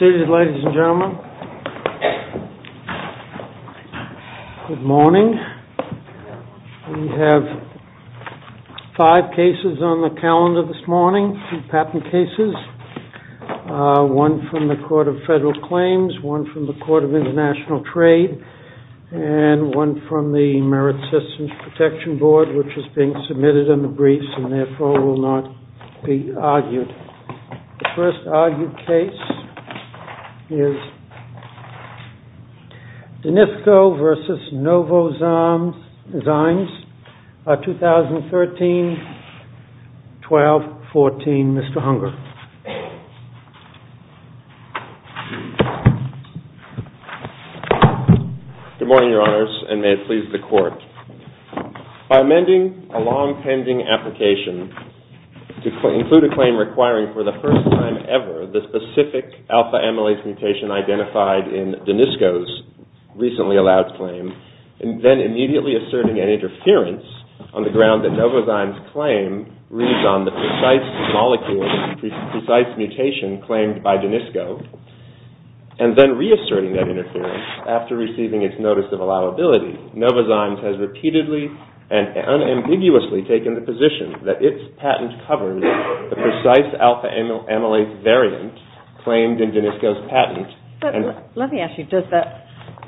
Ladies and gentlemen, good morning. We have five cases on the calendar this morning, patent cases. One from the Court of Federal Claims, one from the Court of International Trade and one from the Merit Systems Protection Board which is being submitted in the briefs and therefore will not be argued. The first argued case is Denisco v. Novozymes 2013-12-14, Mr. Hunger. Good morning, Your Honors, and may it please the Court. By amending a long-pending application to include a claim requiring for the first time ever the specific alpha-amylase mutation identified in Denisco's recently-allowed claim and then immediately asserting an interference on the ground that Novozymes' claim reads on the precise molecule, precise mutation claimed by Denisco and then reasserting that Novozymes has repeatedly and unambiguously taken the position that its patent covers the precise alpha-amylase variant claimed in Denisco's patent. Let me ask you, does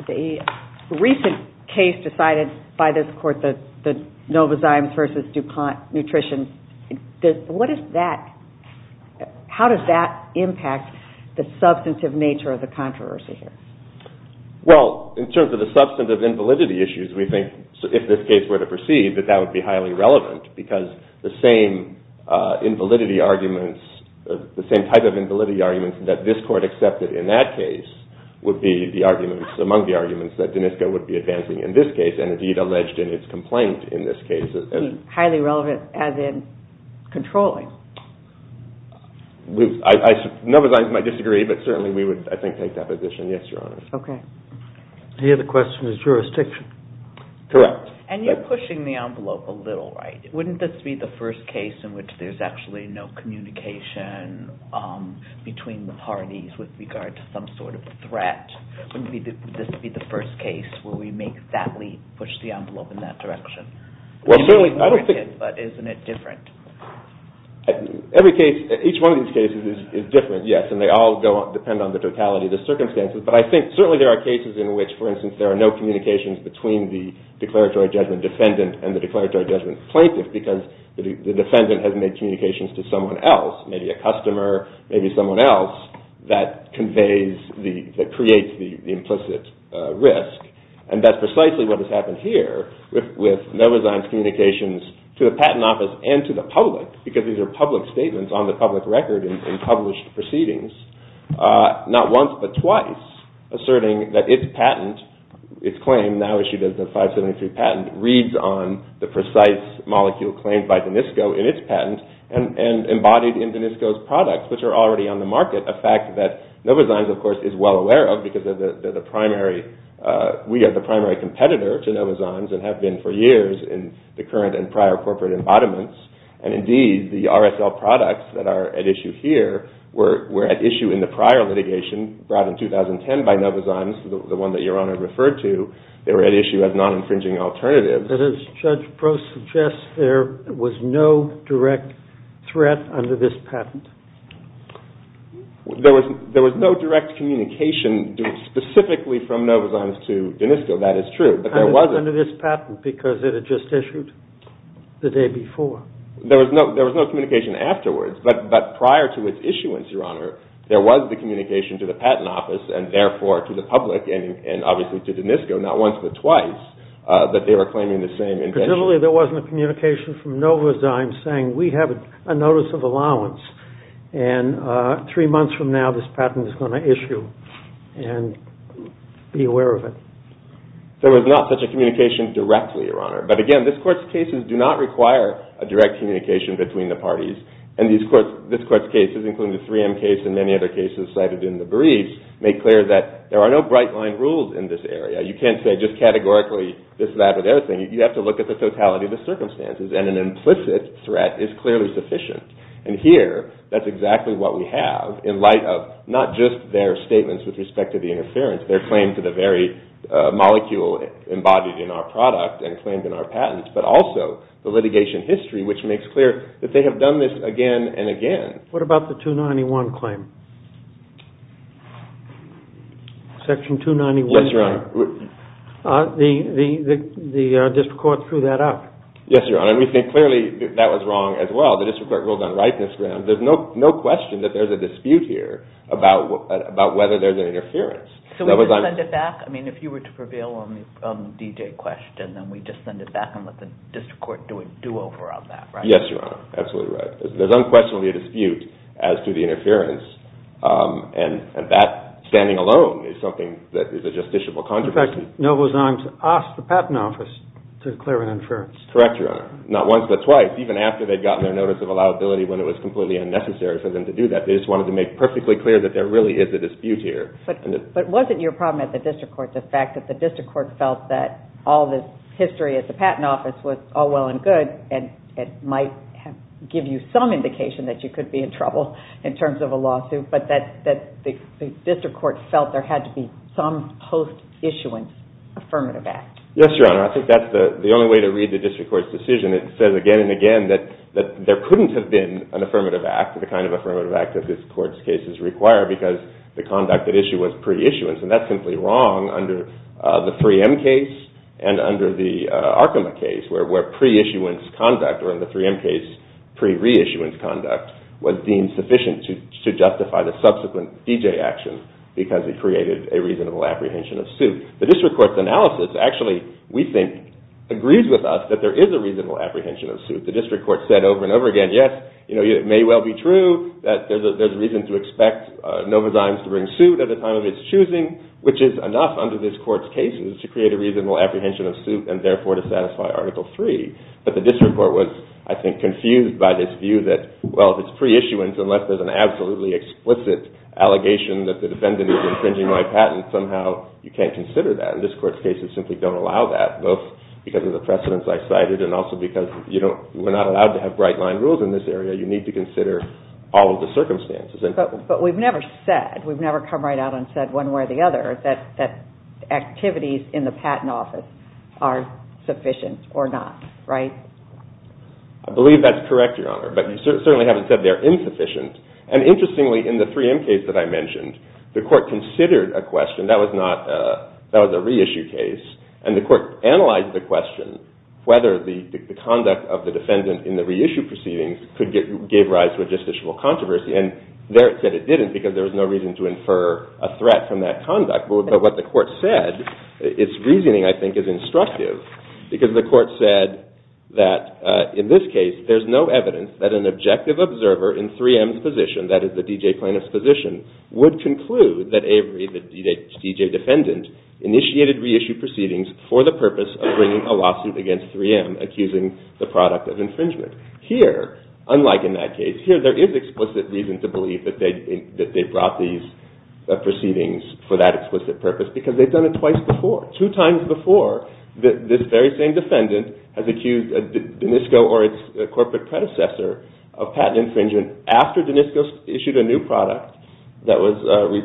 the recent case decided by this Court, the Novozymes v. DuPont nutrition, how does that impact the substantive nature of the controversy here? Well, in terms of the substantive invalidity issues, we think if this case were to proceed, that that would be highly relevant because the same invalidity arguments, the same type of invalidity arguments that this Court accepted in that case would be the arguments, among the arguments, that Denisco would be advancing in this case and indeed alleged in its complaint in this case. Highly relevant as in controlling? Novozymes might disagree, but certainly we would, I think, take that position. Yes, Your Honor. Okay. The other question is jurisdiction. Correct. And you're pushing the envelope a little, right? Wouldn't this be the first case in which there's actually no communication between the parties with regard to some sort of threat? Wouldn't this be the first case where we make that leap, push the envelope in that direction? Well, certainly, I don't think... But isn't it different? Every case, each one of these cases is different, yes, and they all depend on the totality of the circumstances, but I think certainly there are cases in which, for instance, there are no communications between the declaratory judgment defendant and the declaratory judgment plaintiff because the defendant has made communications to someone else, maybe a customer, maybe someone else, that conveys, that creates the implicit risk. And that's precisely what has happened here with Novozymes' communications to the Patent Office and to the public because these are public statements on the public record and published proceedings, not once but twice asserting that its patent, its claim now issued as the 573 patent, reads on the precise molecule claimed by DENISCO in its patent and embodied in DENISCO's products, which are already on the market, a fact that Novozymes, of course, is well aware of because they're the primary... We are the primary competitor to Novozymes and have been for years in the current and are at issue here, were at issue in the prior litigation brought in 2010 by Novozymes, the one that Your Honor referred to. They were at issue as non-infringing alternatives. But as Judge Prost suggests, there was no direct threat under this patent. There was no direct communication specifically from Novozymes to DENISCO. That is true, but there wasn't. Under this patent because it had just issued the day before. There was no communication afterwards, but prior to its issuance, Your Honor, there was the communication to the patent office and therefore to the public and obviously to DENISCO not once but twice that they were claiming the same invention. Presumably there wasn't a communication from Novozymes saying we have a notice of allowance and three months from now this patent is going to issue and be aware of it. There was not such a communication directly, Your Honor. But again, this Court's cases do not require a direct communication between the parties and this Court's cases including the 3M case and many other cases cited in the briefs make clear that there are no bright line rules in this area. You can't say just categorically this, that or the other thing. You have to look at the totality of the circumstances and an implicit threat is clearly sufficient. And here that's exactly what we have in light of not just their statements with respect to the interference, their claim to the very molecule embodied in our product and claimed in our patents, but also the litigation history which makes clear that they have done this again and again. What about the 291 claim? Section 291? Yes, Your Honor. The district court threw that out. Yes, Your Honor. And we think clearly that was wrong as well. The district court ruled on rightness grounds. There's no question that there's a dispute here about whether there's an interference. So we just send it back? I mean, if you were to prevail on the DJ question, then we just send it back and let the district court do over on that, right? Yes, Your Honor. Absolutely right. There's unquestionably a dispute as to the interference and that standing alone is something that is a justiciable controversy. In fact, Novozymes asked the Patent Office to declare an interference. Correct, Your Honor. Not once but twice. Even after they'd gotten their notice of allowability when it was completely unnecessary for them to do that. They just wanted to make perfectly clear that there really is a dispute here. But wasn't your problem at the district court the fact that the district court felt that all the history at the Patent Office was all well and good and it might give you some indication that you could be in trouble in terms of a lawsuit, but that the district court felt there had to be some post-issuance affirmative act? Yes, Your Honor. I think that's the only way to read the district court's decision. It says again and again that there couldn't have been an affirmative act, the kind of affirmative act that this court's cases require because the conduct at issue was pre-issuance. And that's simply wrong under the 3M case and under the Arkema case where pre-issuance conduct or in the 3M case pre-reissuance conduct was deemed sufficient to justify the subsequent DJ action because it created a reasonable apprehension of suit. The district court's analysis actually, we think, agrees with us that there is a reasonable apprehension of suit. The district court said over and over again, yes, it may well be true that there's reason to expect Novozymes to bring suit at the time of its choosing, which is enough under this court's cases to create a reasonable apprehension of suit and therefore to satisfy Article III. But the district court was, I think, confused by this view that, well, if it's pre-issuance, unless there's an absolutely explicit allegation that the defendant is infringing my patent, somehow you can't consider that. And this court's cases simply don't allow that, both because of the precedence I cited and also because we're not allowed to have bright-line rules in this area. You need to consider all of the circumstances. But we've never said, we've never come right out and said one way or the other that activities in the patent office are sufficient or not, right? I believe that's correct, Your Honor, but you certainly haven't said they're insufficient. And interestingly, in the 3M case that I mentioned, the court considered a question. That was a reissue case, and the court analyzed the question whether the conduct of the defendant in the reissue proceedings could give rise to a justiciable controversy. And there it said it didn't because there was no reason to infer a threat from that conduct. But what the court said, its reasoning, I think, is instructive because the court said that, in this case, there's no evidence that an objective observer in 3M's position, that is, the D.J. Planoff's position, would conclude that Avery, the D.J. defendant, initiated reissue proceedings for the purpose of bringing a lawsuit against 3M accusing the product of infringement. Here, unlike in that case, here there is explicit reason to believe that they brought these proceedings for that explicit purpose because they've done it twice before. Two times before, this very same defendant has accused DENISCO or its corporate predecessor of patent infringement after DENISCO issued a new product that was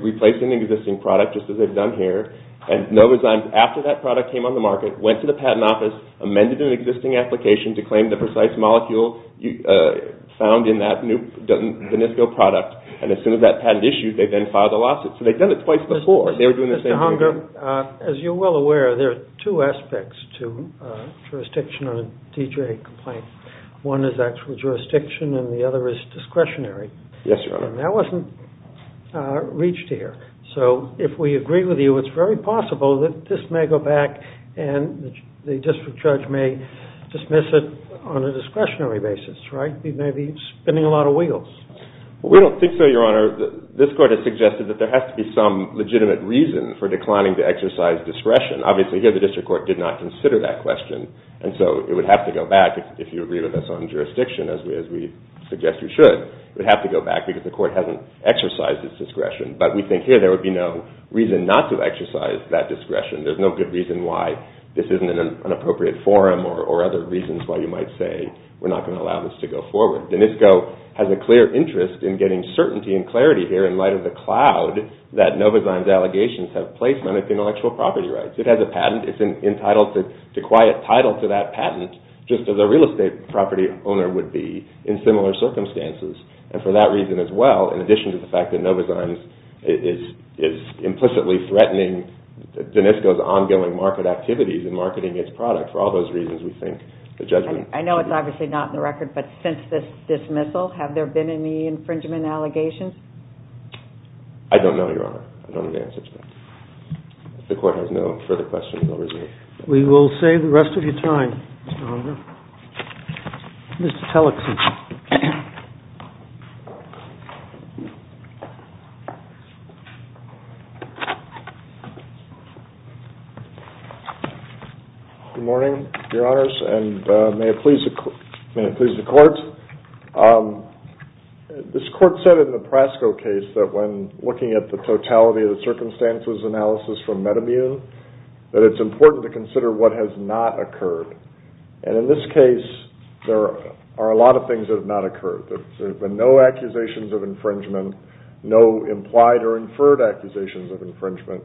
replacing an existing product, just as they've done here, and Novazymes, after that product came on the market, went to the patent office, amended an existing application to claim the precise molecule found in that new DENISCO product, and as soon as that patent issued, they then filed a lawsuit. So they've done it twice before. Mr. Hunger, as you're well aware, there are two aspects to jurisdiction on a D.J. complaint. One is actual jurisdiction and the other is discretionary. Yes, Your Honor. And that wasn't reached here. So if we agree with you, it's very possible that this may go back and the district judge may dismiss it on a discretionary basis, right? He may be spinning a lot of wheels. We don't think so, Your Honor. This court has suggested that there has to be some legitimate reason for declining to exercise discretion. Obviously, here the district court did not consider that question, and so it would have to go back, if you agree with us on jurisdiction, as we suggest you should, it would have to go back because the court hasn't exercised its discretion. But we think here there would be no reason not to exercise that discretion. There's no good reason why this isn't an appropriate forum or other reasons why you might say we're not going to allow this to go forward. DNISCO has a clear interest in getting certainty and clarity here in light of the cloud that Novozyme's allegations have placement of intellectual property rights. It has a patent. It's entitled to acquire a title to that patent just as a real estate property owner would be in similar circumstances. And for that reason as well, in addition to the fact that Novozyme is implicitly threatening DNISCO's ongoing market activities and marketing its product, for all those reasons we think the judgment should be made. I know it's obviously not in the record, but since this dismissal, have there been any infringement allegations? I don't know, Your Honor. I don't have the answers to that. If the court has no further questions, I'll resume. We will save the rest of your time, Mr. Oliver. Mr. Tellexson. Good morning, Your Honors, and may it please the court. This court said in the Prasco case that when looking at the totality of the circumstances analysis for Metamune, that it's important to consider what has not occurred. And in this case, there are a lot of things that have not occurred. There have been no accusations of infringement, no implied or inferred accusations of infringement,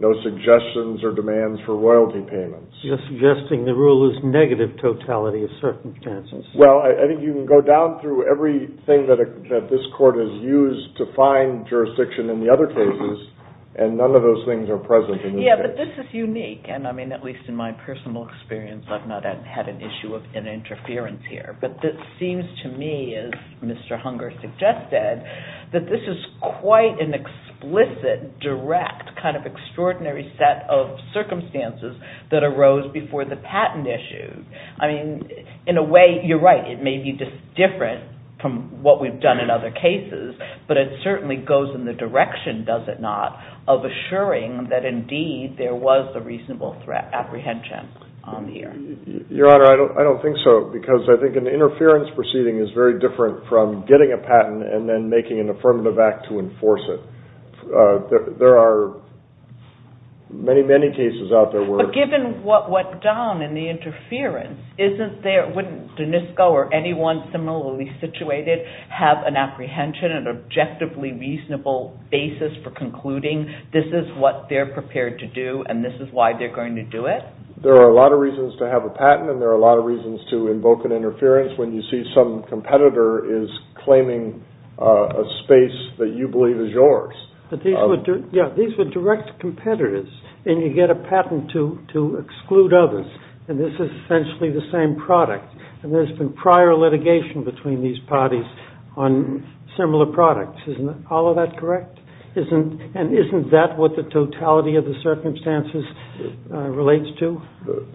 no suggestions or demands for royalty payments. You're suggesting the rule is negative totality of circumstances. Well, I think you can go down through everything that this court has used to find jurisdiction in the other cases, and none of those things are present in this case. Yeah, but this is unique, and I mean, at least in my personal experience, I've not had an issue of an interference here. But it seems to me, as Mr. Hunger suggested, that this is quite an explicit, direct, kind of extraordinary set of circumstances that arose before the patent issue. I mean, in a way, you're right, it may be just different from what we've done in other cases, but it certainly goes in the direction, does it not, of assuring that indeed there was a reasonable threat, apprehension, on the air. Your Honor, I don't think so, because I think an interference proceeding is very different from getting a patent and then making an affirmative act to enforce it. There are many, many cases out there where... But given what went down in the interference, wouldn't DNISCO or anyone similarly situated have an apprehension, an objectively reasonable basis for concluding, this is what they're prepared to do, and this is why they're going to do it? There are a lot of reasons to have a patent, and there are a lot of reasons to invoke an interference when you see some competitor is claiming a space that you believe is yours. But these were direct competitors, and you get a patent to exclude others, and this is essentially the same product. And there's been prior litigation between these parties on similar products. Isn't all of that correct? And isn't that what the totality of the circumstances relates to?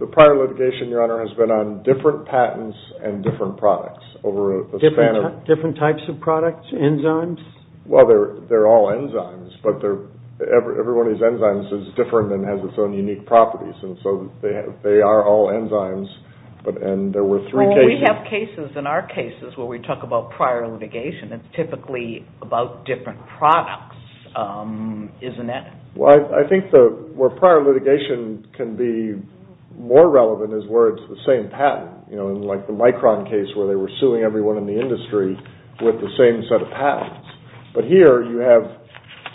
The prior litigation, Your Honor, has been on different patents and different products. Different types of products? Enzymes? Well, they're all enzymes, but everybody's enzyme is different and has its own unique properties, and so they are all enzymes, and there were three cases... Well, we have cases in our cases where we talk about prior litigation. It's typically about different products, isn't it? Well, I think where prior litigation can be more relevant is where it's the same patent, like the Micron case where they were suing everyone in the industry with the same set of patents. But here you have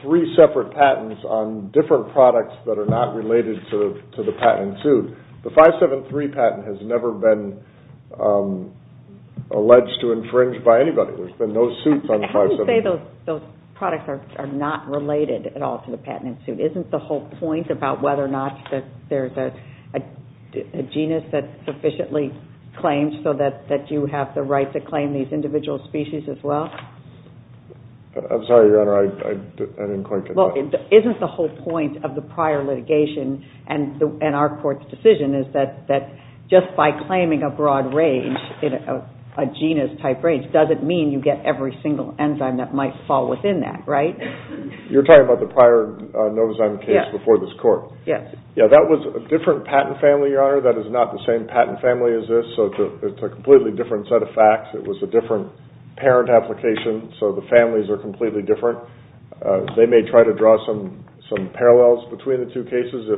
three separate patents on different products that are not related to the patent suit. The 573 patent has never been alleged to infringe by anybody. There's been no suits on the 573. How can you say those products are not related at all to the patent suit? Isn't the whole point about whether or not there's a genus that sufficiently claims so that you have the right to claim these individual species as well? I'm sorry, Your Honor, I didn't quite get that. Well, isn't the whole point of the prior litigation, and our court's decision, is that just by claiming a broad range, a genus-type range, doesn't mean you get every single enzyme that might fall within that, right? You're talking about the prior Novozyme case before this court? Yeah, that was a different patent family, Your Honor. That is not the same patent family as this, so it's a completely different set of facts. It was a different parent application, so the families are completely different. They may try to draw some parallels between the two cases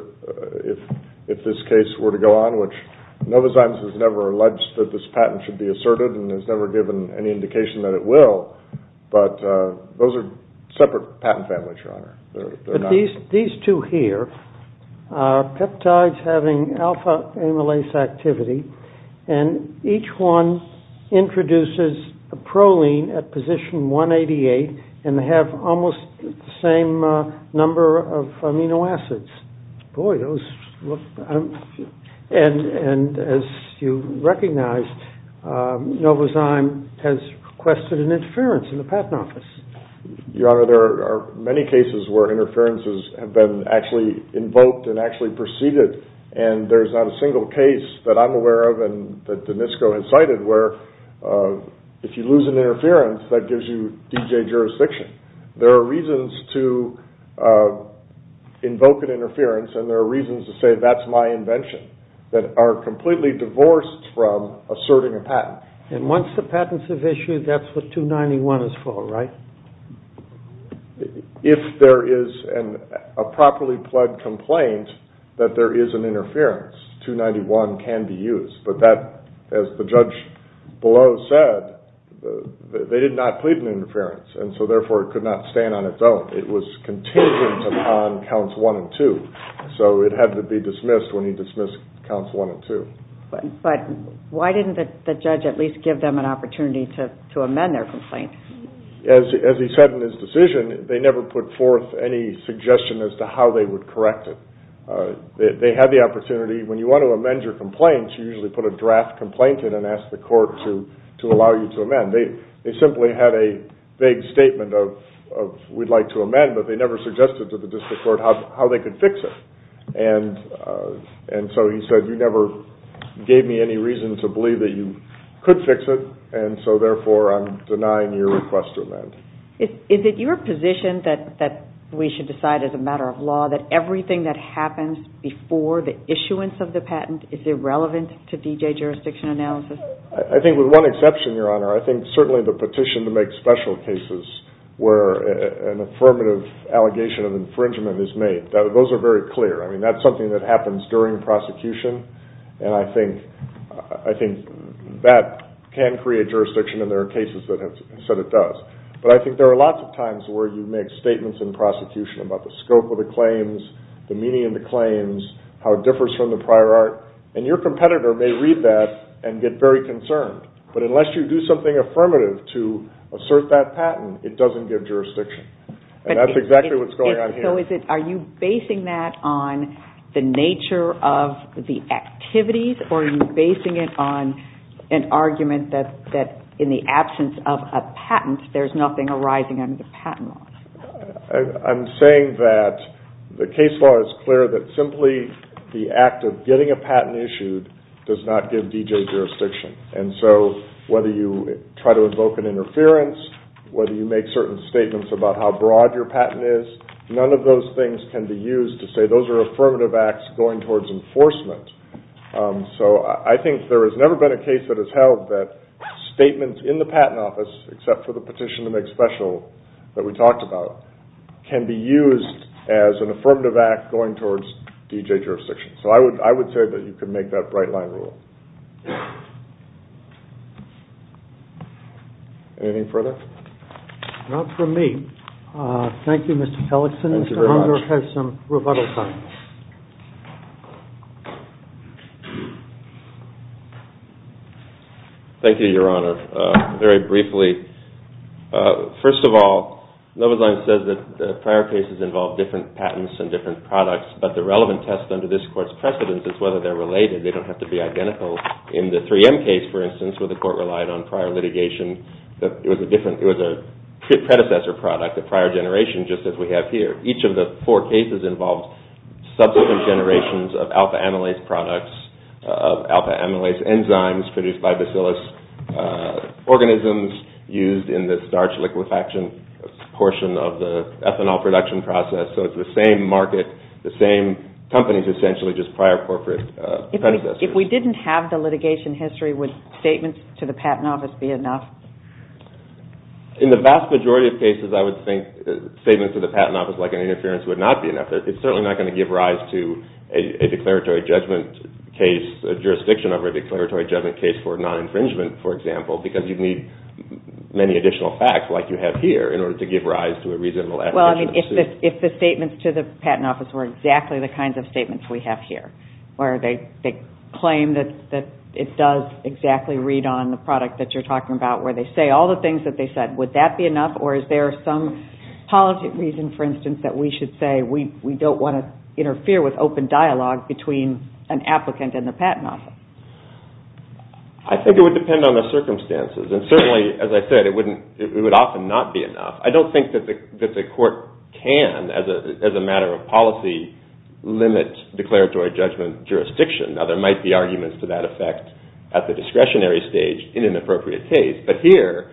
if this case were to go on, which Novozyme has never alleged that this patent should be asserted and has never given any indication that it will. But those are separate patent families, Your Honor. But these two here are peptides having alpha-amylase activity, and each one introduces a proline at position 188, and they have almost the same number of amino acids. And as you recognize, Novozyme has requested an interference in the patent office. Your Honor, there are many cases where interferences have been actually invoked and actually preceded, and there's not a single case that I'm aware of and that Danisco has cited where if you lose an interference, that gives you DJ jurisdiction. There are reasons to invoke an interference, and there are reasons to say, that's my invention, that are completely divorced from asserting a patent. And once the patents have issued, that's what 291 is for, right? If there is a properly pled complaint that there is an interference, 291 can be used. But that, as the judge below said, they did not plead an interference, and so therefore it could not stand on its own. It was contingent upon counts one and two, so it had to be dismissed when he dismissed counts one and two. But why didn't the judge at least give them an opportunity to amend their complaint? As he said in his decision, they never put forth any suggestion as to how they would correct it. They had the opportunity, when you want to amend your complaint, you usually put a draft complaint in and ask the court to allow you to amend. They simply had a vague statement of, we'd like to amend, but they never suggested to the district court how they could fix it. And so he said, you never gave me any reason to believe that you could fix it, and so therefore I'm denying your request to amend. Is it your position that we should decide as a matter of law that everything that happens before the issuance of the patent is irrelevant to D.J. jurisdiction analysis? I think with one exception, Your Honor. I think certainly the petition to make special cases where an affirmative allegation of infringement is made, those are very clear. I mean, that's something that happens during prosecution, and I think that can create jurisdiction, and there are cases that have said it does. But I think there are lots of times where you make statements in prosecution about the scope of the claims, the meaning of the claims, how it differs from the prior art, and your competitor may read that and get very concerned. But unless you do something affirmative to assert that patent, it doesn't give jurisdiction. And that's exactly what's going on here. So are you basing that on the nature of the activities, or are you basing it on an argument that in the absence of a patent, there's nothing arising under the patent law? I'm saying that the case law is clear that simply the act of getting a patent issued does not give D.J. jurisdiction. And so whether you try to invoke an interference, whether you make certain statements about how broad your patent is, none of those things can be used to say those are affirmative acts going towards enforcement. So I think there has never been a case that has held that statements in the patent office, except for the petition to make special that we talked about, can be used as an affirmative act going towards D.J. jurisdiction. So I would say that you can make that bright-line rule. Anything further? Not from me. Thank you, Mr. Pellickson. Mr. Hunger has some rebuttal time. Thank you, Your Honor. Very briefly, first of all, Novoselic says that prior cases involved different patents and different products, but the relevant test under this Court's precedence is whether they're related. They don't have to be identical. In the 3M case, for instance, where the Court relied on prior litigation, it was a predecessor product, a prior generation, just as we have here. Each of the four cases involved subsequent generations of alpha-amylase products, alpha-amylase enzymes produced by bacillus organisms used in the starch liquefaction portion of the ethanol production process. So it's the same market, the same companies, essentially, just prior corporate predecessors. If we didn't have the litigation history, would statements to the Patent Office be enough? In the vast majority of cases, I would think statements to the Patent Office, like an interference, would not be enough. It's certainly not going to give rise to a declaratory judgment case, a jurisdiction over a declaratory judgment case for non-infringement, for example, because you'd need many additional facts, like you have here, in order to give rise to a reasonable attribution of the suit. If the statements to the Patent Office were exactly the kinds of statements we have here, where they claim that it does exactly read on the product that you're talking about, where they say all the things that they said, would that be enough? Or is there some policy reason, for instance, that we should say we don't want to interfere with open dialogue between an applicant and the Patent Office? I think it would depend on the circumstances. And certainly, as I said, it would often not be enough. I don't think that the Court can, as a matter of policy, limit declaratory judgment jurisdiction. Now, there might be arguments to that effect at the discretionary stage in an appropriate case. But here,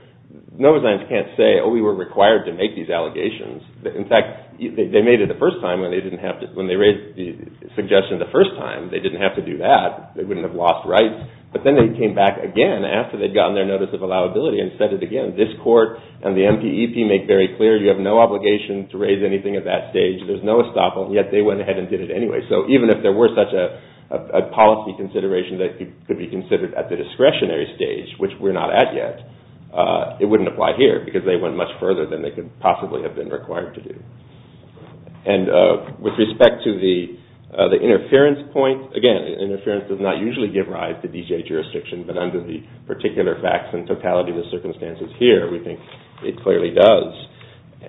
Novozyants can't say, oh, we were required to make these allegations. In fact, they made it the first time when they raised the suggestion the first time. They didn't have to do that. They wouldn't have lost rights. But then they came back again after they'd gotten their notice of allowability and said it again. And this Court and the MPEP make very clear you have no obligation to raise anything at that stage. There's no estoppel. And yet they went ahead and did it anyway. So even if there were such a policy consideration that could be considered at the discretionary stage, which we're not at yet, it wouldn't apply here, because they went much further than they could possibly have been required to do. And with respect to the interference point, again, interference does not usually give rise to BJA jurisdiction. But under the particular facts and totality of the circumstances here, we think it clearly does.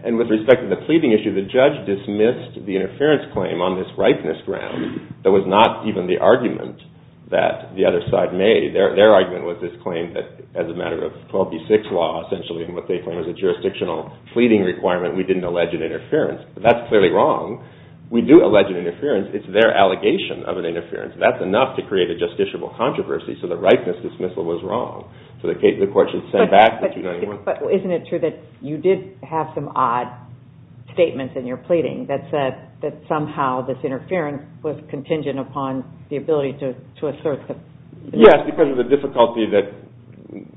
And with respect to the pleading issue, the judge dismissed the interference claim on this rightness ground. That was not even the argument that the other side made. Their argument was this claim that as a matter of 12b-6 law, essentially in what they claim is a jurisdictional pleading requirement, we didn't allege an interference. That's clearly wrong. We do allege an interference. It's their allegation of an interference. That's enough to create a justiciable controversy. So the rightness dismissal was wrong. So the court should send back the 291. But isn't it true that you did have some odd statements in your pleading that said that somehow this interference was contingent upon the ability to assert the… Yes, because of the difficulty that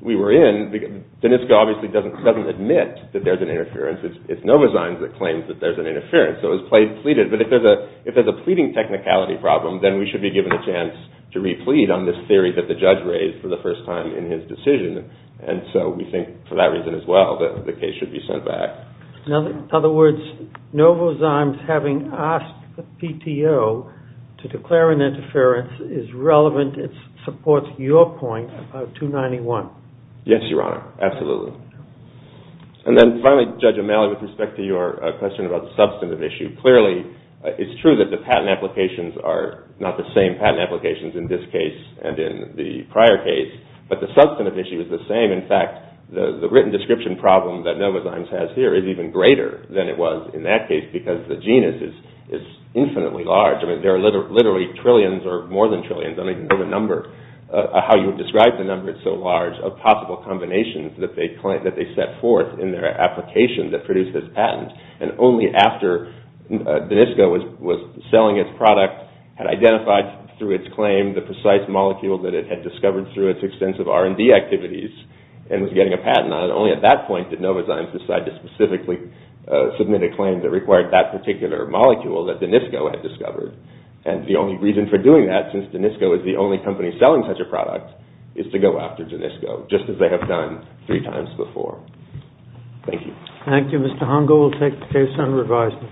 we were in. Danisco obviously doesn't admit that there's an interference. It's Novazine that claims that there's an interference. So it was pleaded. But if there's a pleading technicality problem, then we should be given a chance to re-plead on this theory that the judge raised for the first time in his decision. And so we think for that reason as well that the case should be sent back. In other words, Novazine having asked the PTO to declare an interference is relevant. It supports your point about 291. Yes, Your Honor. Absolutely. And then finally, Judge O'Malley, with respect to your question about the substantive issue, it's true that the patent applications are not the same patent applications in this case and in the prior case. But the substantive issue is the same. In fact, the written description problem that Novazine has here is even greater than it was in that case because the genus is infinitely large. There are literally trillions or more than trillions, I don't even know the number, how you would describe the number, it's so large, of possible combinations that they set forth in their application that produces patents. And only after DENISCO was selling its product, had identified through its claim the precise molecule that it had discovered through its extensive R&D activities and was getting a patent on it, only at that point did Novazine decide to specifically submit a claim that required that particular molecule that DENISCO had discovered. And the only reason for doing that, since DENISCO is the only company selling such a product, is to go after DENISCO, just as they have done three times before. Thank you. Thank you, Mr. Hongo. We'll take the case on revised.